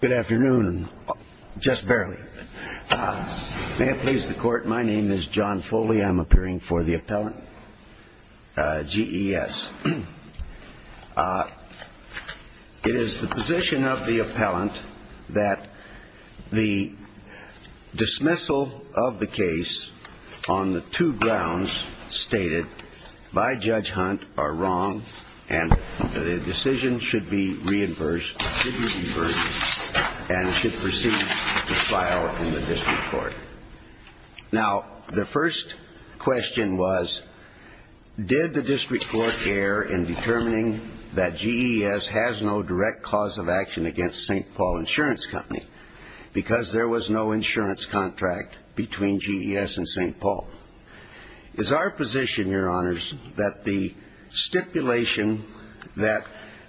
Good afternoon. Just barely. May it please the Court, my name is John Foley. I'm appearing for the appellant, GES. It is the position of the appellant that the dismissal of the appellant should be reversed and should proceed to file in the district court. Now, the first question was, did the district court err in determining that GES has no direct cause of action against St. Paul Insurance Company because there was no insurance contract between GES and St. Paul? It's our position, Your Honors, that the stipulation that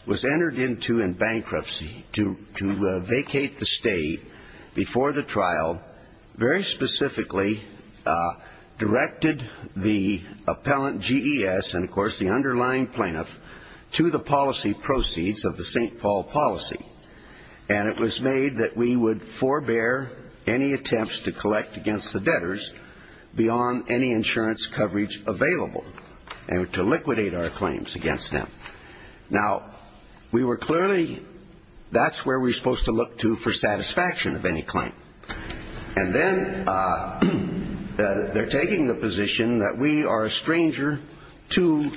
was entered into in bankruptcy to vacate the state before the trial very specifically directed the appellant, GES, and, of course, the underlying plaintiff, to the policy proceeds of the St. Paul policy. And it was made that we would forbear any attempts to collect against the debtors beyond any insurance coverage available and to liquidate our claims against them. Now, we were clearly that's where we were supposed to look to for satisfaction of any claim. And then they're taking the position that we are a stranger to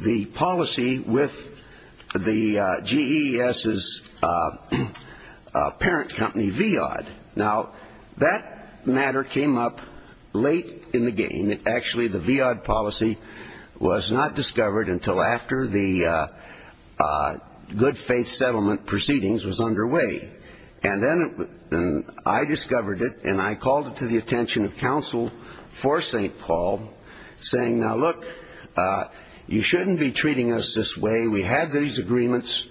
the policy with the GES's parent company, VEOD. Now, that matter came up late in the game. Actually, the VEOD policy was not discovered until after the good faith settlement proceedings was underway. And then I discovered it, and I called it to the attention of counsel for St. Paul, saying, now, look, you shouldn't be treating us this way. We had these agreements.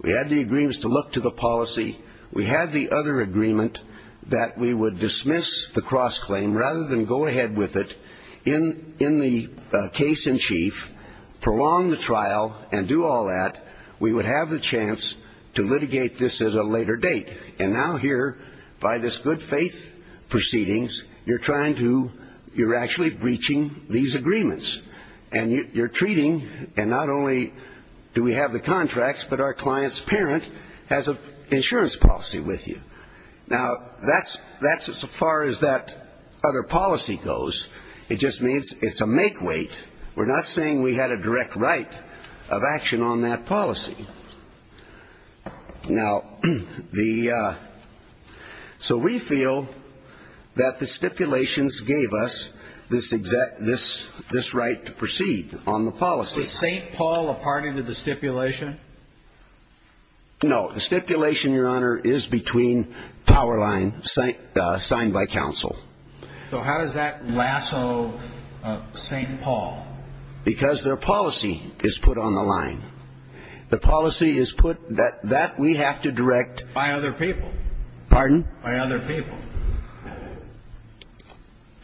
We had the agreements to look to the policy. We had the other agreement that we would dismiss the cross-claim rather than go ahead with it in the case in chief, prolong the trial, and do all that. We would have the chance to litigate this at a later date. And now here, by this good faith proceedings, you're trying to you're actually breaching these agreements. And you're treating and not only do we have the contracts, but our client's parent has an insurance policy with you. Now, that's as far as that other policy goes. It just means it's a make weight. We're not saying we had a direct right of action on that policy. Now, the so we feel that the stipulations gave us this right to proceed on the policy. Is St. Paul a party to the stipulation? No. The stipulation, your honor, is between power line signed by counsel. So how does that lasso St. Paul? Because their policy is put on the line. The policy is put that we have to direct by other people. Pardon? By other people.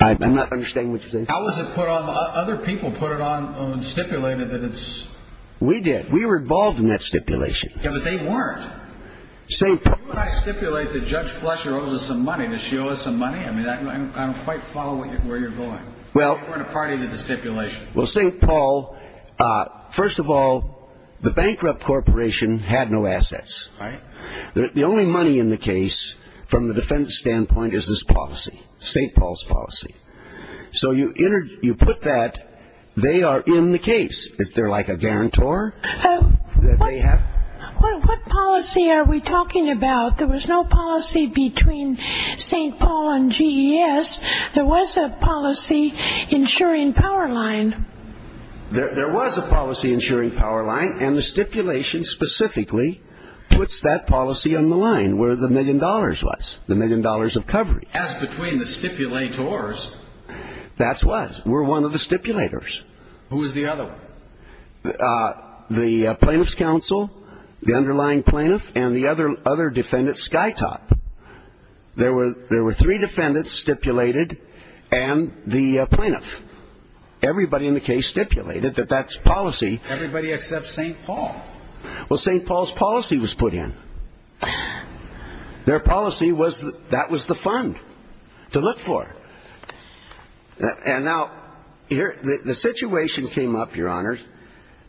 I'm not understanding what you're saying. How was it put on the other people put it on stipulated that it's. We did. We were involved in that stipulation. Yeah, but they weren't. St. Paul. When I stipulate that Judge Fletcher owes us some money, does she owe us some money? I mean, I don't quite follow where you're going. Well, we're in a party to the stipulation. Well, St. Paul, first of all, the bankrupt corporation had no assets. Right. The only money in the case from the defense standpoint is this policy, St. Paul's policy. So you put that they are in the case. Is there like a guarantor that they have? What policy are we talking about? There was no policy between St. Paul and G.E.S. There was a policy ensuring power line. There was a policy ensuring power line. And the stipulation specifically puts that policy on the line where the million dollars was, the million dollars of coverage. As between the stipulators. That's what we're one of the stipulators. Who is the other one? The plaintiff's counsel, the underlying plaintiff and the other other defendants. Skytop. There were there were three defendants stipulated and the plaintiff. Everybody in the case stipulated that that's policy. Everybody except St. Paul. Well, St. Paul's policy was put in. Their policy was that was the fund to look for. And now here the situation came up, Your Honor,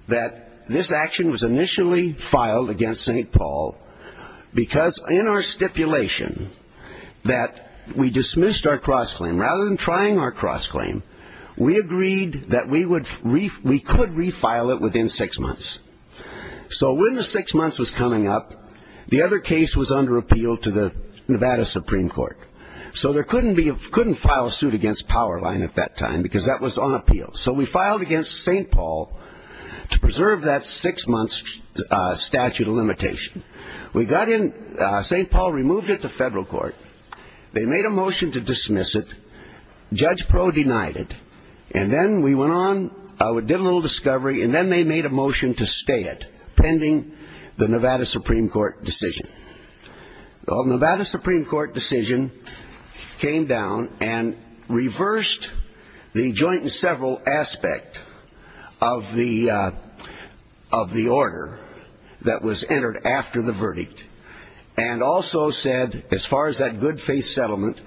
that this action was initially filed against St. Paul because in our stipulation that we dismissed our cross-claim. Rather than trying our cross-claim, we agreed that we would, we could refile it within six months. So when the six months was coming up, the other case was under appeal to the Nevada Supreme Court. So there couldn't be, couldn't file a suit against power line at that time because that was on appeal. So we filed against St. Paul to preserve that six months statute of limitation. We got in, St. Paul removed it to federal court. They made a motion to dismiss it. Judge Pro denied it. And then we went on, we did a little discovery and then they made a motion to stay it pending the Nevada Supreme Court decision. Well, Nevada Supreme Court decision came down and reversed the joint and several aspect of the of the case entered after the verdict. And also said as far as that good faith settlement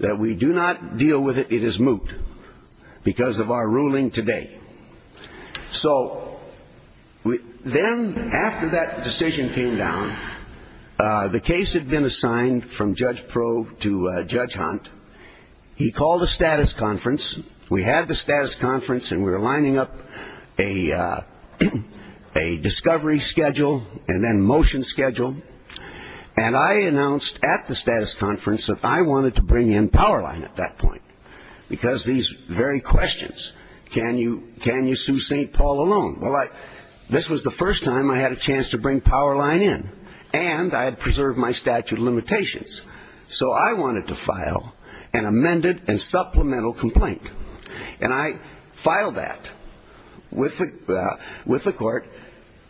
that we do not deal with it, it is moot because of our ruling today. So then after that decision came down, the case had been assigned from Judge Pro to Judge Hunt. He called a status conference. We had the status conference and we were lining up a discovery schedule and motion schedule. And I announced at the status conference that I wanted to bring in power line at that point. Because these very questions, can you sue St. Paul alone? Well, I, this was the first time I had a chance to bring power line in. And I had preserved my statute of limitations. So I wanted to file an amended and supplemental complaint. And I filed that with the, with the court.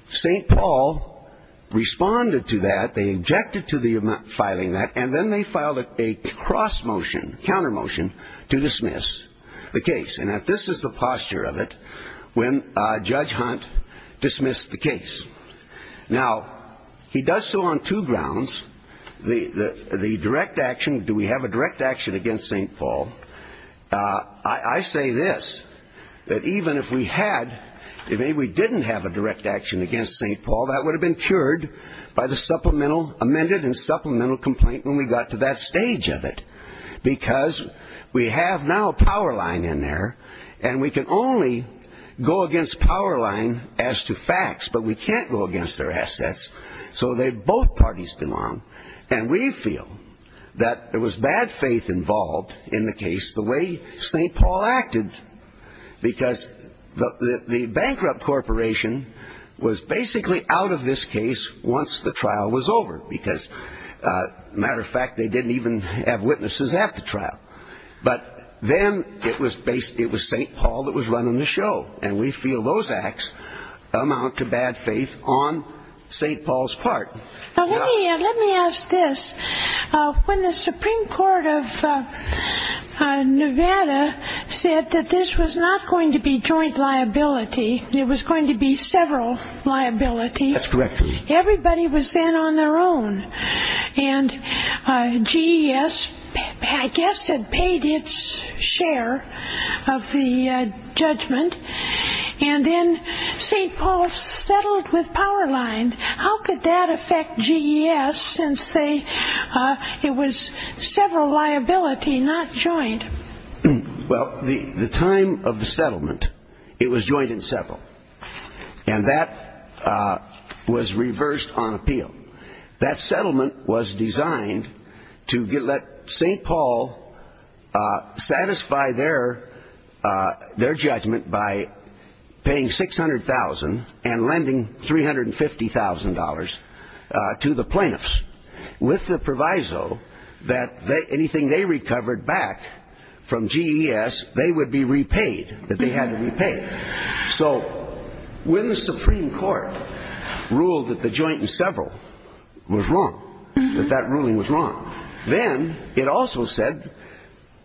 St. Paul responded to that. They objected to the filing that and then they filed a cross motion, counter motion to dismiss the case. And this is the posture of it when Judge Hunt dismissed the case. Now, he does so on two grounds. The direct action, do we have a direct action against St. Paul? I say this, that even if we had, if maybe we didn't have a direct action against St. Paul, that would have been cured by the supplemental, amended and supplemental complaint when we got to that stage of it. Because we have now a power line in there and we can only go against power line as to facts, but we can't go against their assets. So they, both parties belong. And we feel that there was bad faith involved in the case, the way St. Paul acted, because the bankrupt corporation was basically out of this case once the trial was over, because matter of fact, they didn't even have witnesses at the trial. But then it was St. Paul that was running the show. And we feel those acts amount to bad faith on St. Paul's part. Now, let me ask this. When the Supreme Court of Nevada said that this was not going to be joint liability, it was going to be several liabilities, everybody was then on their own. And GES, I guess, had paid its share of the judgment. And then St. Paul settled with power line. How could that affect GES since they, it was several liability, not joint? Well, the time of the settlement, it was joint and several. And that was reversed on appeal. That settlement was designed to let St. Paul satisfy their judgment by paying $600,000 and lending $350,000 to the plaintiffs with the proviso that anything they recovered back from GES, they would be repaid, that they had to be repaid. So when the Supreme Court ruled that the joint and several was wrong, that that ruling was wrong, then it also said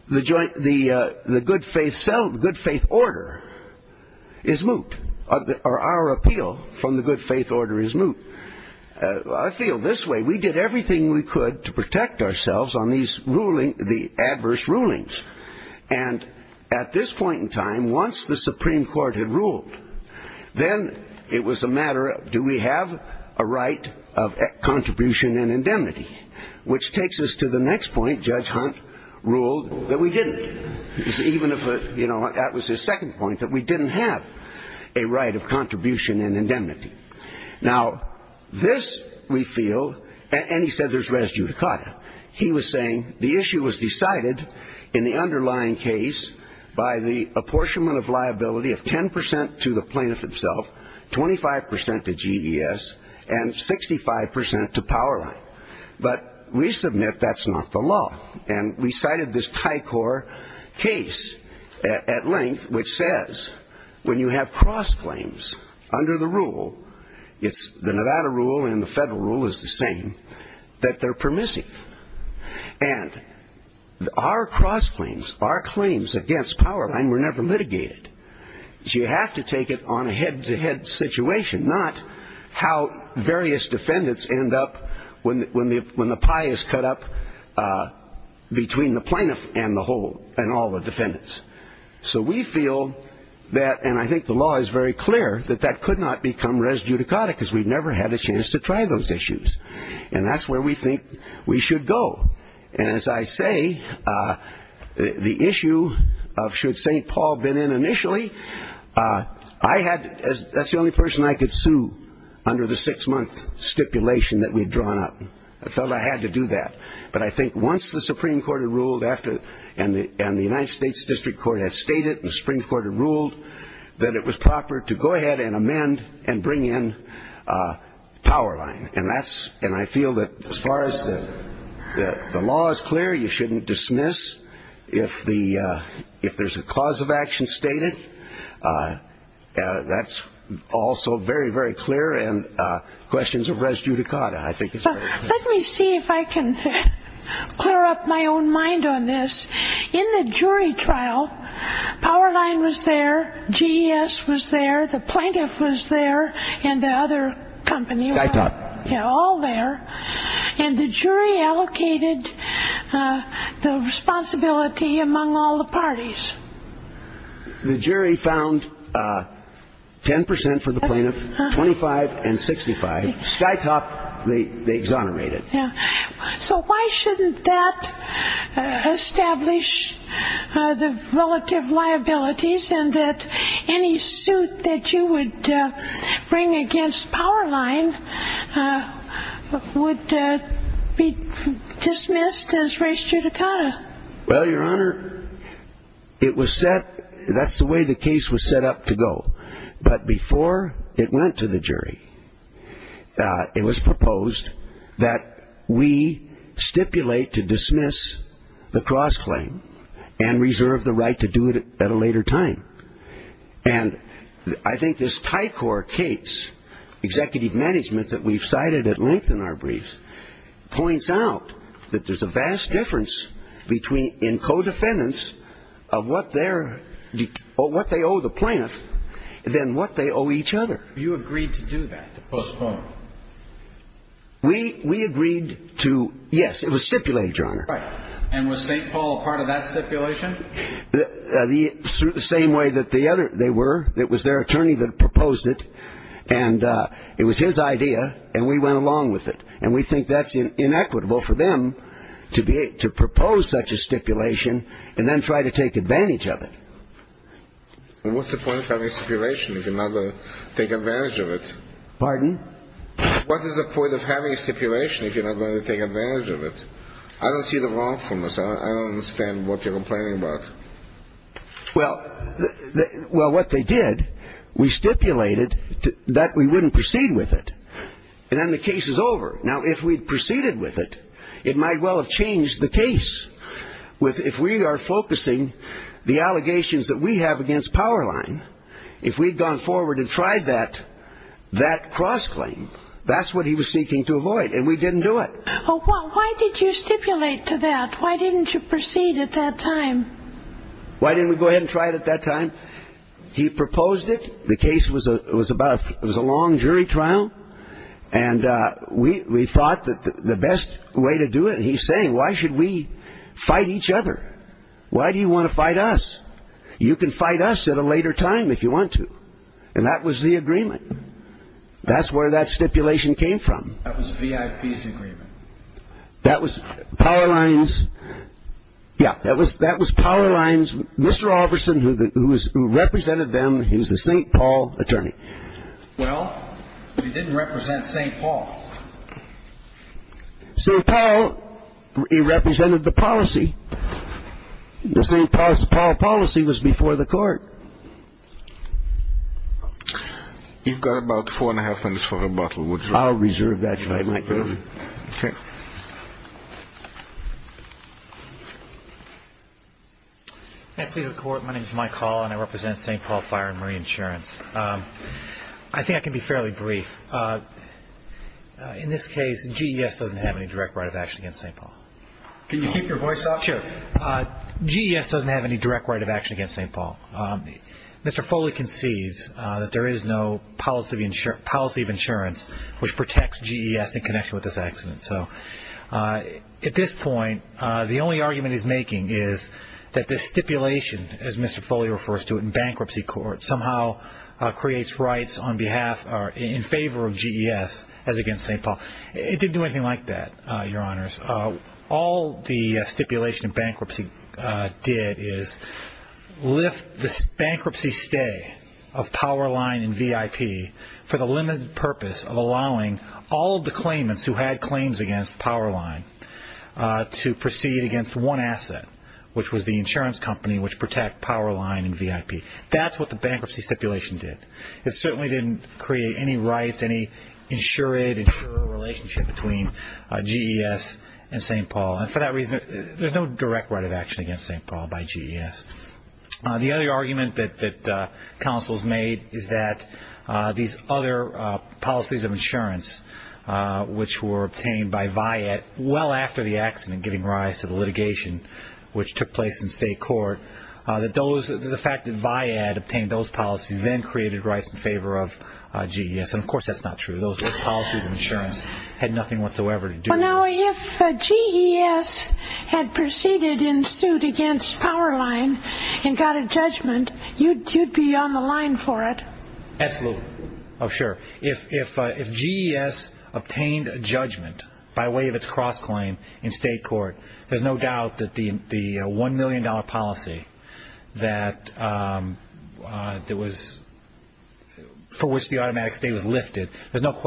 the good faith order is moot, or our appeal from the good faith order is moot. I feel this way. We did everything we could to protect ourselves on these ruling, the adverse rulings. And at this point in time, once the Supreme Court had ruled, then it was a matter of do we have a right of contribution and indemnity, which takes us to the next point. Judge Hunt ruled that we didn't. Even if, you know, that was his second point, that we didn't have a right of contribution and indemnity. Now, this we feel, and he said there's res judicata. He was saying the issue was decided in the underlying case by the apportionment of liability of 10% to the plaintiff himself, 25% to GES, and 65% to Powerline. But we submit that's not the law. And we cited this Tycor case at length which says when you have cross claims under the rule, it's the Nevada rule and the federal rule is the same, that they're permissive. And our cross claims, our claims against Powerline were never litigated. You have to take it on a head to head situation, not how various defendants end up when the pie is cut up, between the plaintiff and the whole, and all the defendants. So we feel that, and I think the law is very clear, that that could not become res judicata because we've never had a chance to try those issues. And that's where we think we should go. And as I say, the issue of should St. Paul have been in initially, I had, that's the only person I could sue under the six month stipulation that we'd drawn up. I felt I had to do that. But I think once the Supreme Court had ruled after, and the United States District Court had stated, and the Supreme Court had ruled, that it was proper to go ahead and amend and bring in Powerline. And that's, and I feel that as far as the law is clear, you shouldn't dismiss if the, if there's a cause of action stated, that's also very, very clear. And questions of res judicata, I think is very clear. Let me see if I can clear up my own mind on this. In the jury trial, Powerline was there, GES was there, the plaintiff was there, and the other company, all there. And the jury allocated the responsibility among all the parties. The jury found 10 percent for the plaintiff, 25 and 65. Sky top, they exonerated. So why shouldn't that establish the relative liabilities and that any suit that you would bring against Powerline would be dismissed as res judicata? Well, Your Honor, it was set, that's the way the case was set up to go. But before it went to the jury, it was proposed that we stipulate to dismiss the cross-claim and reserve the claim at a later time. And I think this Tycor case, executive management that we've cited at length in our briefs, points out that there's a vast difference between, in co-defendants of what they're, what they owe the plaintiff, than what they owe each other. You agreed to do that, to postpone? We agreed to, yes, it was stipulated, Your Honor. And was St. Paul part of that stipulation? The same way that the other, they were, it was their attorney that proposed it, and it was his idea, and we went along with it. And we think that's inequitable for them to be, to propose such a stipulation and then try to take advantage of it. What's the point of having a stipulation if you're not going to take advantage of it? Pardon? What is the point of having a stipulation if you're not going to take advantage of it? I don't see the wrongfulness. I don't understand what you're complaining about. Well, what they did, we stipulated that we wouldn't proceed with it. And then the case is over. Now, if we'd proceeded with it, it might well have changed the case. If we are focusing the allegations that we have against Powerline, if we'd gone forward and tried that, that cross-claim, that's what he was seeking to avoid, and we didn't do it. Well, why did you stipulate to that? Why didn't you proceed at that time? Why didn't we go ahead and try it at that time? He proposed it. The case was a long jury trial. And we thought that the best way to do it, and he's saying, why should we fight each other? Why do you want to fight us? You can fight us at a later time if you want to. And that was the agreement. That's where that stipulation came from. That was VIP's agreement. That was Powerline's. Yeah, that was Powerline's. Mr. Albertson, who represented them, he was a St. Paul attorney. Well, he didn't represent St. Paul. St. Paul, he represented the policy. The St. Paul policy was before the court. You've got about four and a half minutes for rebuttal, would you? I'll reserve that to my microphone. May I please have the court? My name is Mike Hall, and I represent St. Paul Fire and Marine Insurance. I think I can be fairly brief. In this case, GES doesn't have any direct right of action against St. Paul. Can you keep your voice up? Sure. GES doesn't have any direct right of action against St. Paul. Mr. Foley concedes that there is no policy of insurance which protects GES in connection with this accident. At this point, the only argument he's making is that this stipulation, as Mr. Foley refers to it, in bankruptcy court, somehow creates rights in favor of GES as against St. Paul. It didn't do anything like that, Your Honors. All the stipulation in bankruptcy did is lift the bankruptcy stay of Powerline and VIP for the limited purpose of allowing all of the claimants who had claims against Powerline to proceed against one asset, which was the insurance company which protects Powerline and VIP. That's what the bankruptcy stipulation did. It certainly didn't create any rights, any insured relationship between GES and St. Paul. For that reason, there's no direct right of action against St. Paul by GES. The other argument that counsel has made is that these other policies of insurance, which were obtained by VIAD well after the accident giving rise to the litigation which took place in state court, that the fact that VIAD obtained those policies then created rights in favor of GES. Of course, that's not true. Those policies of insurance had nothing whatsoever to do with it. If GES had proceeded in suit against Powerline and got a judgment, you'd be on the line for it? Absolutely. If GES obtained a judgment by way of its cross-claim in state court, there's no doubt that the $1 million policy for which the automatic stay was lifted, there's no doubt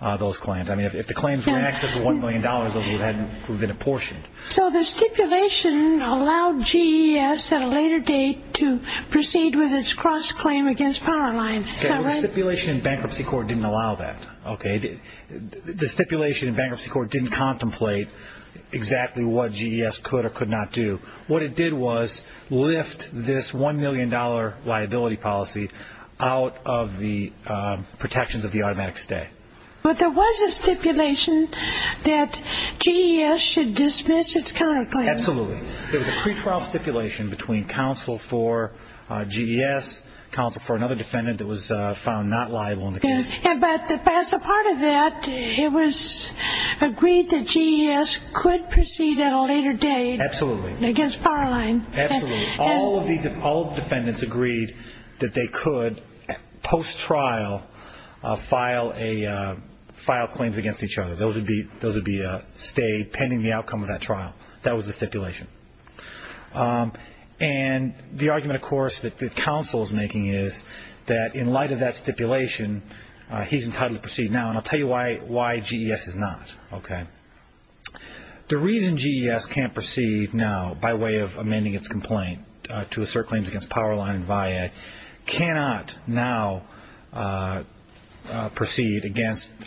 that those claims, if the claims were in excess of $1 million, those would have been apportioned. So the stipulation allowed GES at a later date to proceed with its cross-claim against Powerline, is that right? The stipulation in bankruptcy court didn't allow that. The stipulation in bankruptcy court didn't contemplate exactly what GES could or could not do. What it did was lift this $1 million liability policy out of the protections of the automatic stay. But there was a stipulation that GES should dismiss its counterclaim. Absolutely. There was a pre-trial stipulation between counsel for GES, counsel for another defendant that was found not liable in the case. But as a part of that, it was agreed that GES could proceed at a later date against Powerline. Absolutely. All the defendants agreed that they could, post-trial, file claims against each other. Those would be stayed pending the outcome of that trial. That was the stipulation. And the argument, of course, that the counsel is making is that in light of that stipulation, he's entitled to proceed now. And I'll tell you why GES is not. Okay. The reason GES can't proceed now by way of amending its complaint to assert claims against Powerline and VIA cannot now proceed against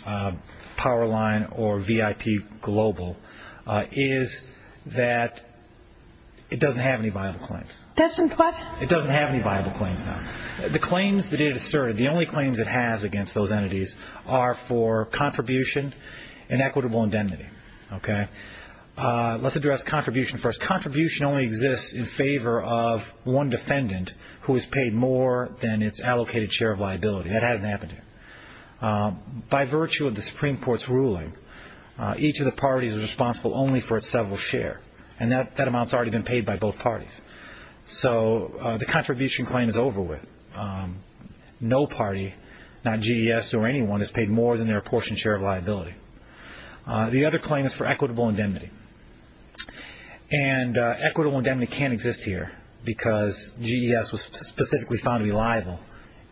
Powerline or VIP Global is that it doesn't have any viable claims. That's in question. It doesn't have any viable claims now. The claims that it asserted, the only claims it asserted was that it had a suitable indemnity. Okay. Let's address contribution first. Contribution only exists in favor of one defendant who is paid more than its allocated share of liability. That hasn't happened here. By virtue of the Supreme Court's ruling, each of the parties is responsible only for its several share. And that amount's already been paid by both parties. So the contribution claim is over with. No party, not GES or anyone, is paid more than their apportioned share of liability. The other claim is for equitable indemnity. And equitable indemnity can't exist here because GES was specifically found to be liable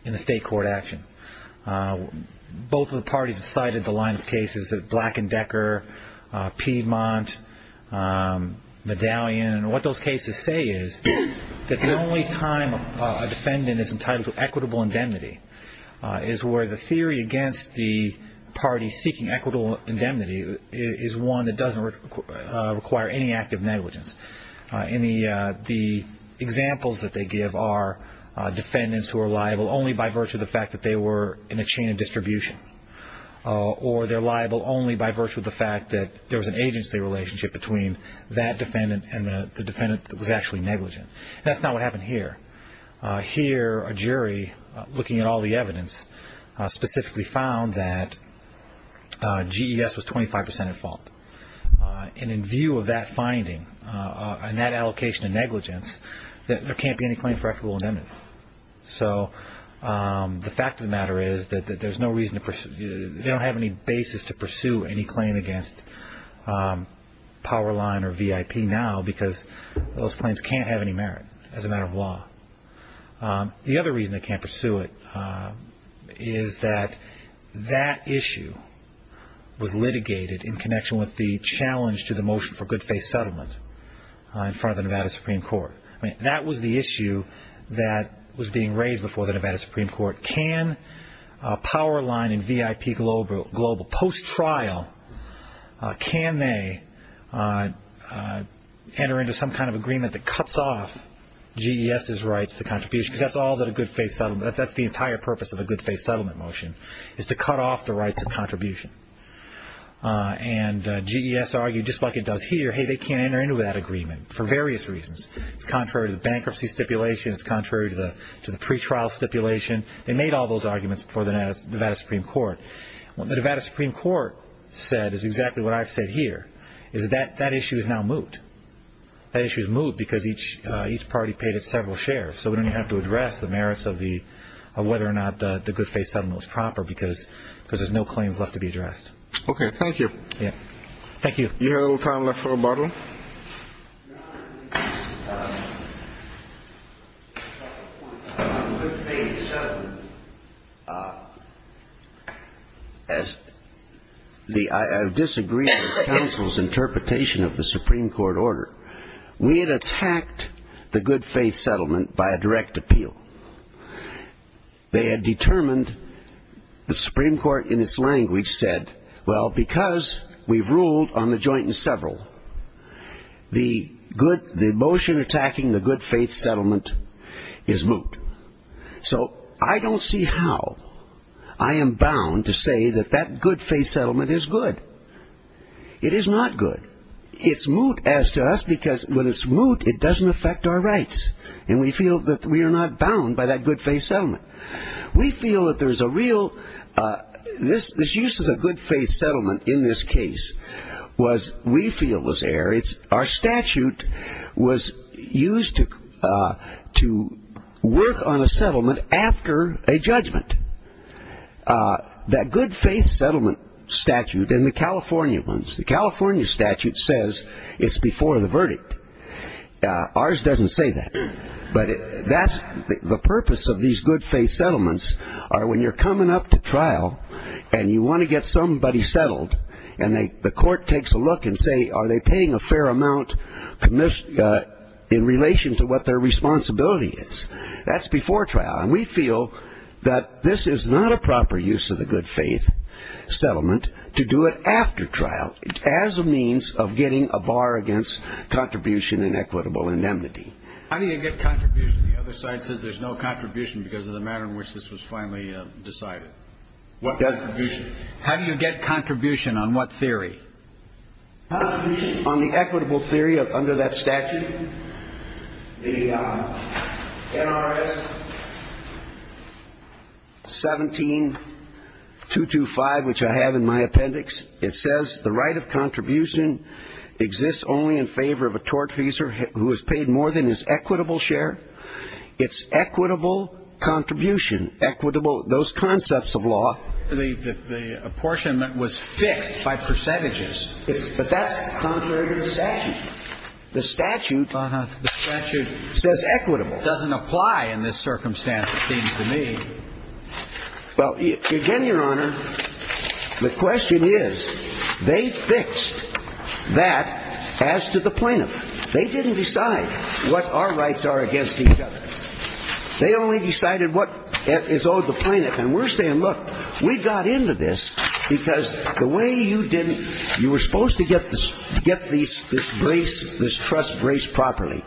in the state court action. Both of the parties have cited the line of cases of Black & Decker, Piedmont, Medallion. And what those cases say is that the only time a defendant is entitled to equitable indemnity is where the theory against the party seeking equitable indemnity is one that doesn't require any act of negligence. In the examples that they give are defendants who are liable only by virtue of the fact that they were in a chain of distribution. Or they're liable only by virtue of the fact that there was an agency relationship between that defendant and the defendant that was actually negligent. That's not what happened here. Here, a jury, looking at all the evidence, specifically found that GES was 25% at fault. And in view of that finding and that allocation of negligence, there can't be any claim for equitable indemnity. So the fact of the matter is that there's no reason to pursue, they don't have any basis to pursue any claim against Powerline or VIP now because those claims can't have any merit as a matter of law. The other reason they can't pursue it is that that issue was litigated in connection with the challenge to the motion for good faith settlement in front of the Nevada Supreme Court. That was the issue that was being raised before the Nevada Supreme Court. Can Powerline and VIP Global post-trial, can they enter into some kind of agreement that cuts off GES's rights to contribution? Because that's all that a good faith settlement, that's the entire purpose of a good faith settlement motion, is to cut off the rights of contribution. And GES argued just like it does here, hey, they can't enter into that agreement for various reasons. It's contrary to the bankruptcy stipulation, it's contrary to the pretrial stipulation. They made all those arguments before the Nevada Supreme Court. What the Nevada Supreme Court said is exactly what I've said here, is that that issue is now moot. That issue is moot because each party paid it several shares, so we don't even have to address the merits of whether or not the good faith settlement was proper because there's no claims left to be addressed. Okay, thank you. Yeah, thank you. Do you have a little time left for a bottle? I disagree with counsel's interpretation of the Supreme Court order. We had attacked the good faith settlement by a direct appeal. They had determined, the Supreme Court in the joint and several, the motion attacking the good faith settlement is moot. So I don't see how I am bound to say that that good faith settlement is good. It is not good. It's moot as to us because when it's moot, it doesn't affect our rights. And we feel that we are not bound by that good faith settlement. We feel that there's a real, this use of a good faith settlement in this case was, we feel was air. Our statute was used to work on a settlement after a judgment. That good faith settlement statute in the California ones, the California statute says it's before the verdict. Ours doesn't say that. But that's the purpose of these good faith settlements are when you're coming up to trial and you want to be settled and the court takes a look and say, are they paying a fair amount in relation to what their responsibility is? That's before trial. And we feel that this is not a proper use of the good faith settlement to do it after trial as a means of getting a bar against contribution and equitable indemnity. How do you get contribution? The other side says there's no contribution because of the pattern in which this was finally decided. How do you get contribution on what theory? On the equitable theory under that statute, the NRS 17.225, which I have in my appendix, it says the right of contribution exists only in favor of a tortfeasor who has paid more than his equitable share. It's equitable contribution, equitable, those concepts of law. But the apportionment was fixed by percentages. But that's contrary to the statute. The statute says equitable. The statute doesn't apply in this circumstance, it seems to me. Well, again, Your Honor, the question is they fixed that as to the plaintiff. They didn't decide what our rights are against each other. They only decided what is owed the plaintiff. And we're saying, look, we got into this because the way you didn't, you were supposed to get this brace, this truss braced properly.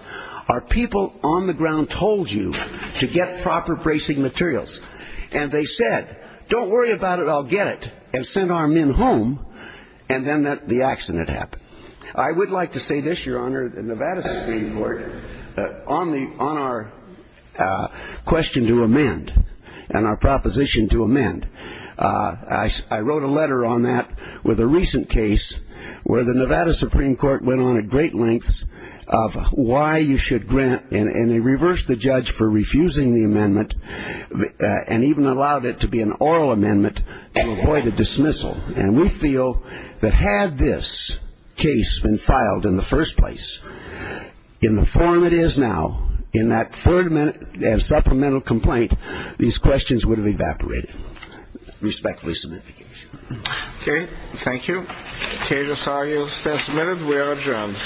Our people on the ground told you to get proper bracing materials. And they said, don't worry about it, I'll get it, and sent our men home, and then the accident happened. I would like to say this, Your Honor, the Nevada Supreme Court, on our question to amend and our proposition to amend, I wrote a letter on that with a recent case where the Nevada Supreme Court went on at great lengths of why you should grant, and they reversed the judge for refusing the amendment, and even allowed it to be an oral amendment to avoid a dismissal. And we feel that had this case been filed in the first place, in the form it is now, in that supplemental complaint, these questions would have evaporated, respectfully submit the case. Okay. Thank you. The case is argued and submitted. We are adjourned.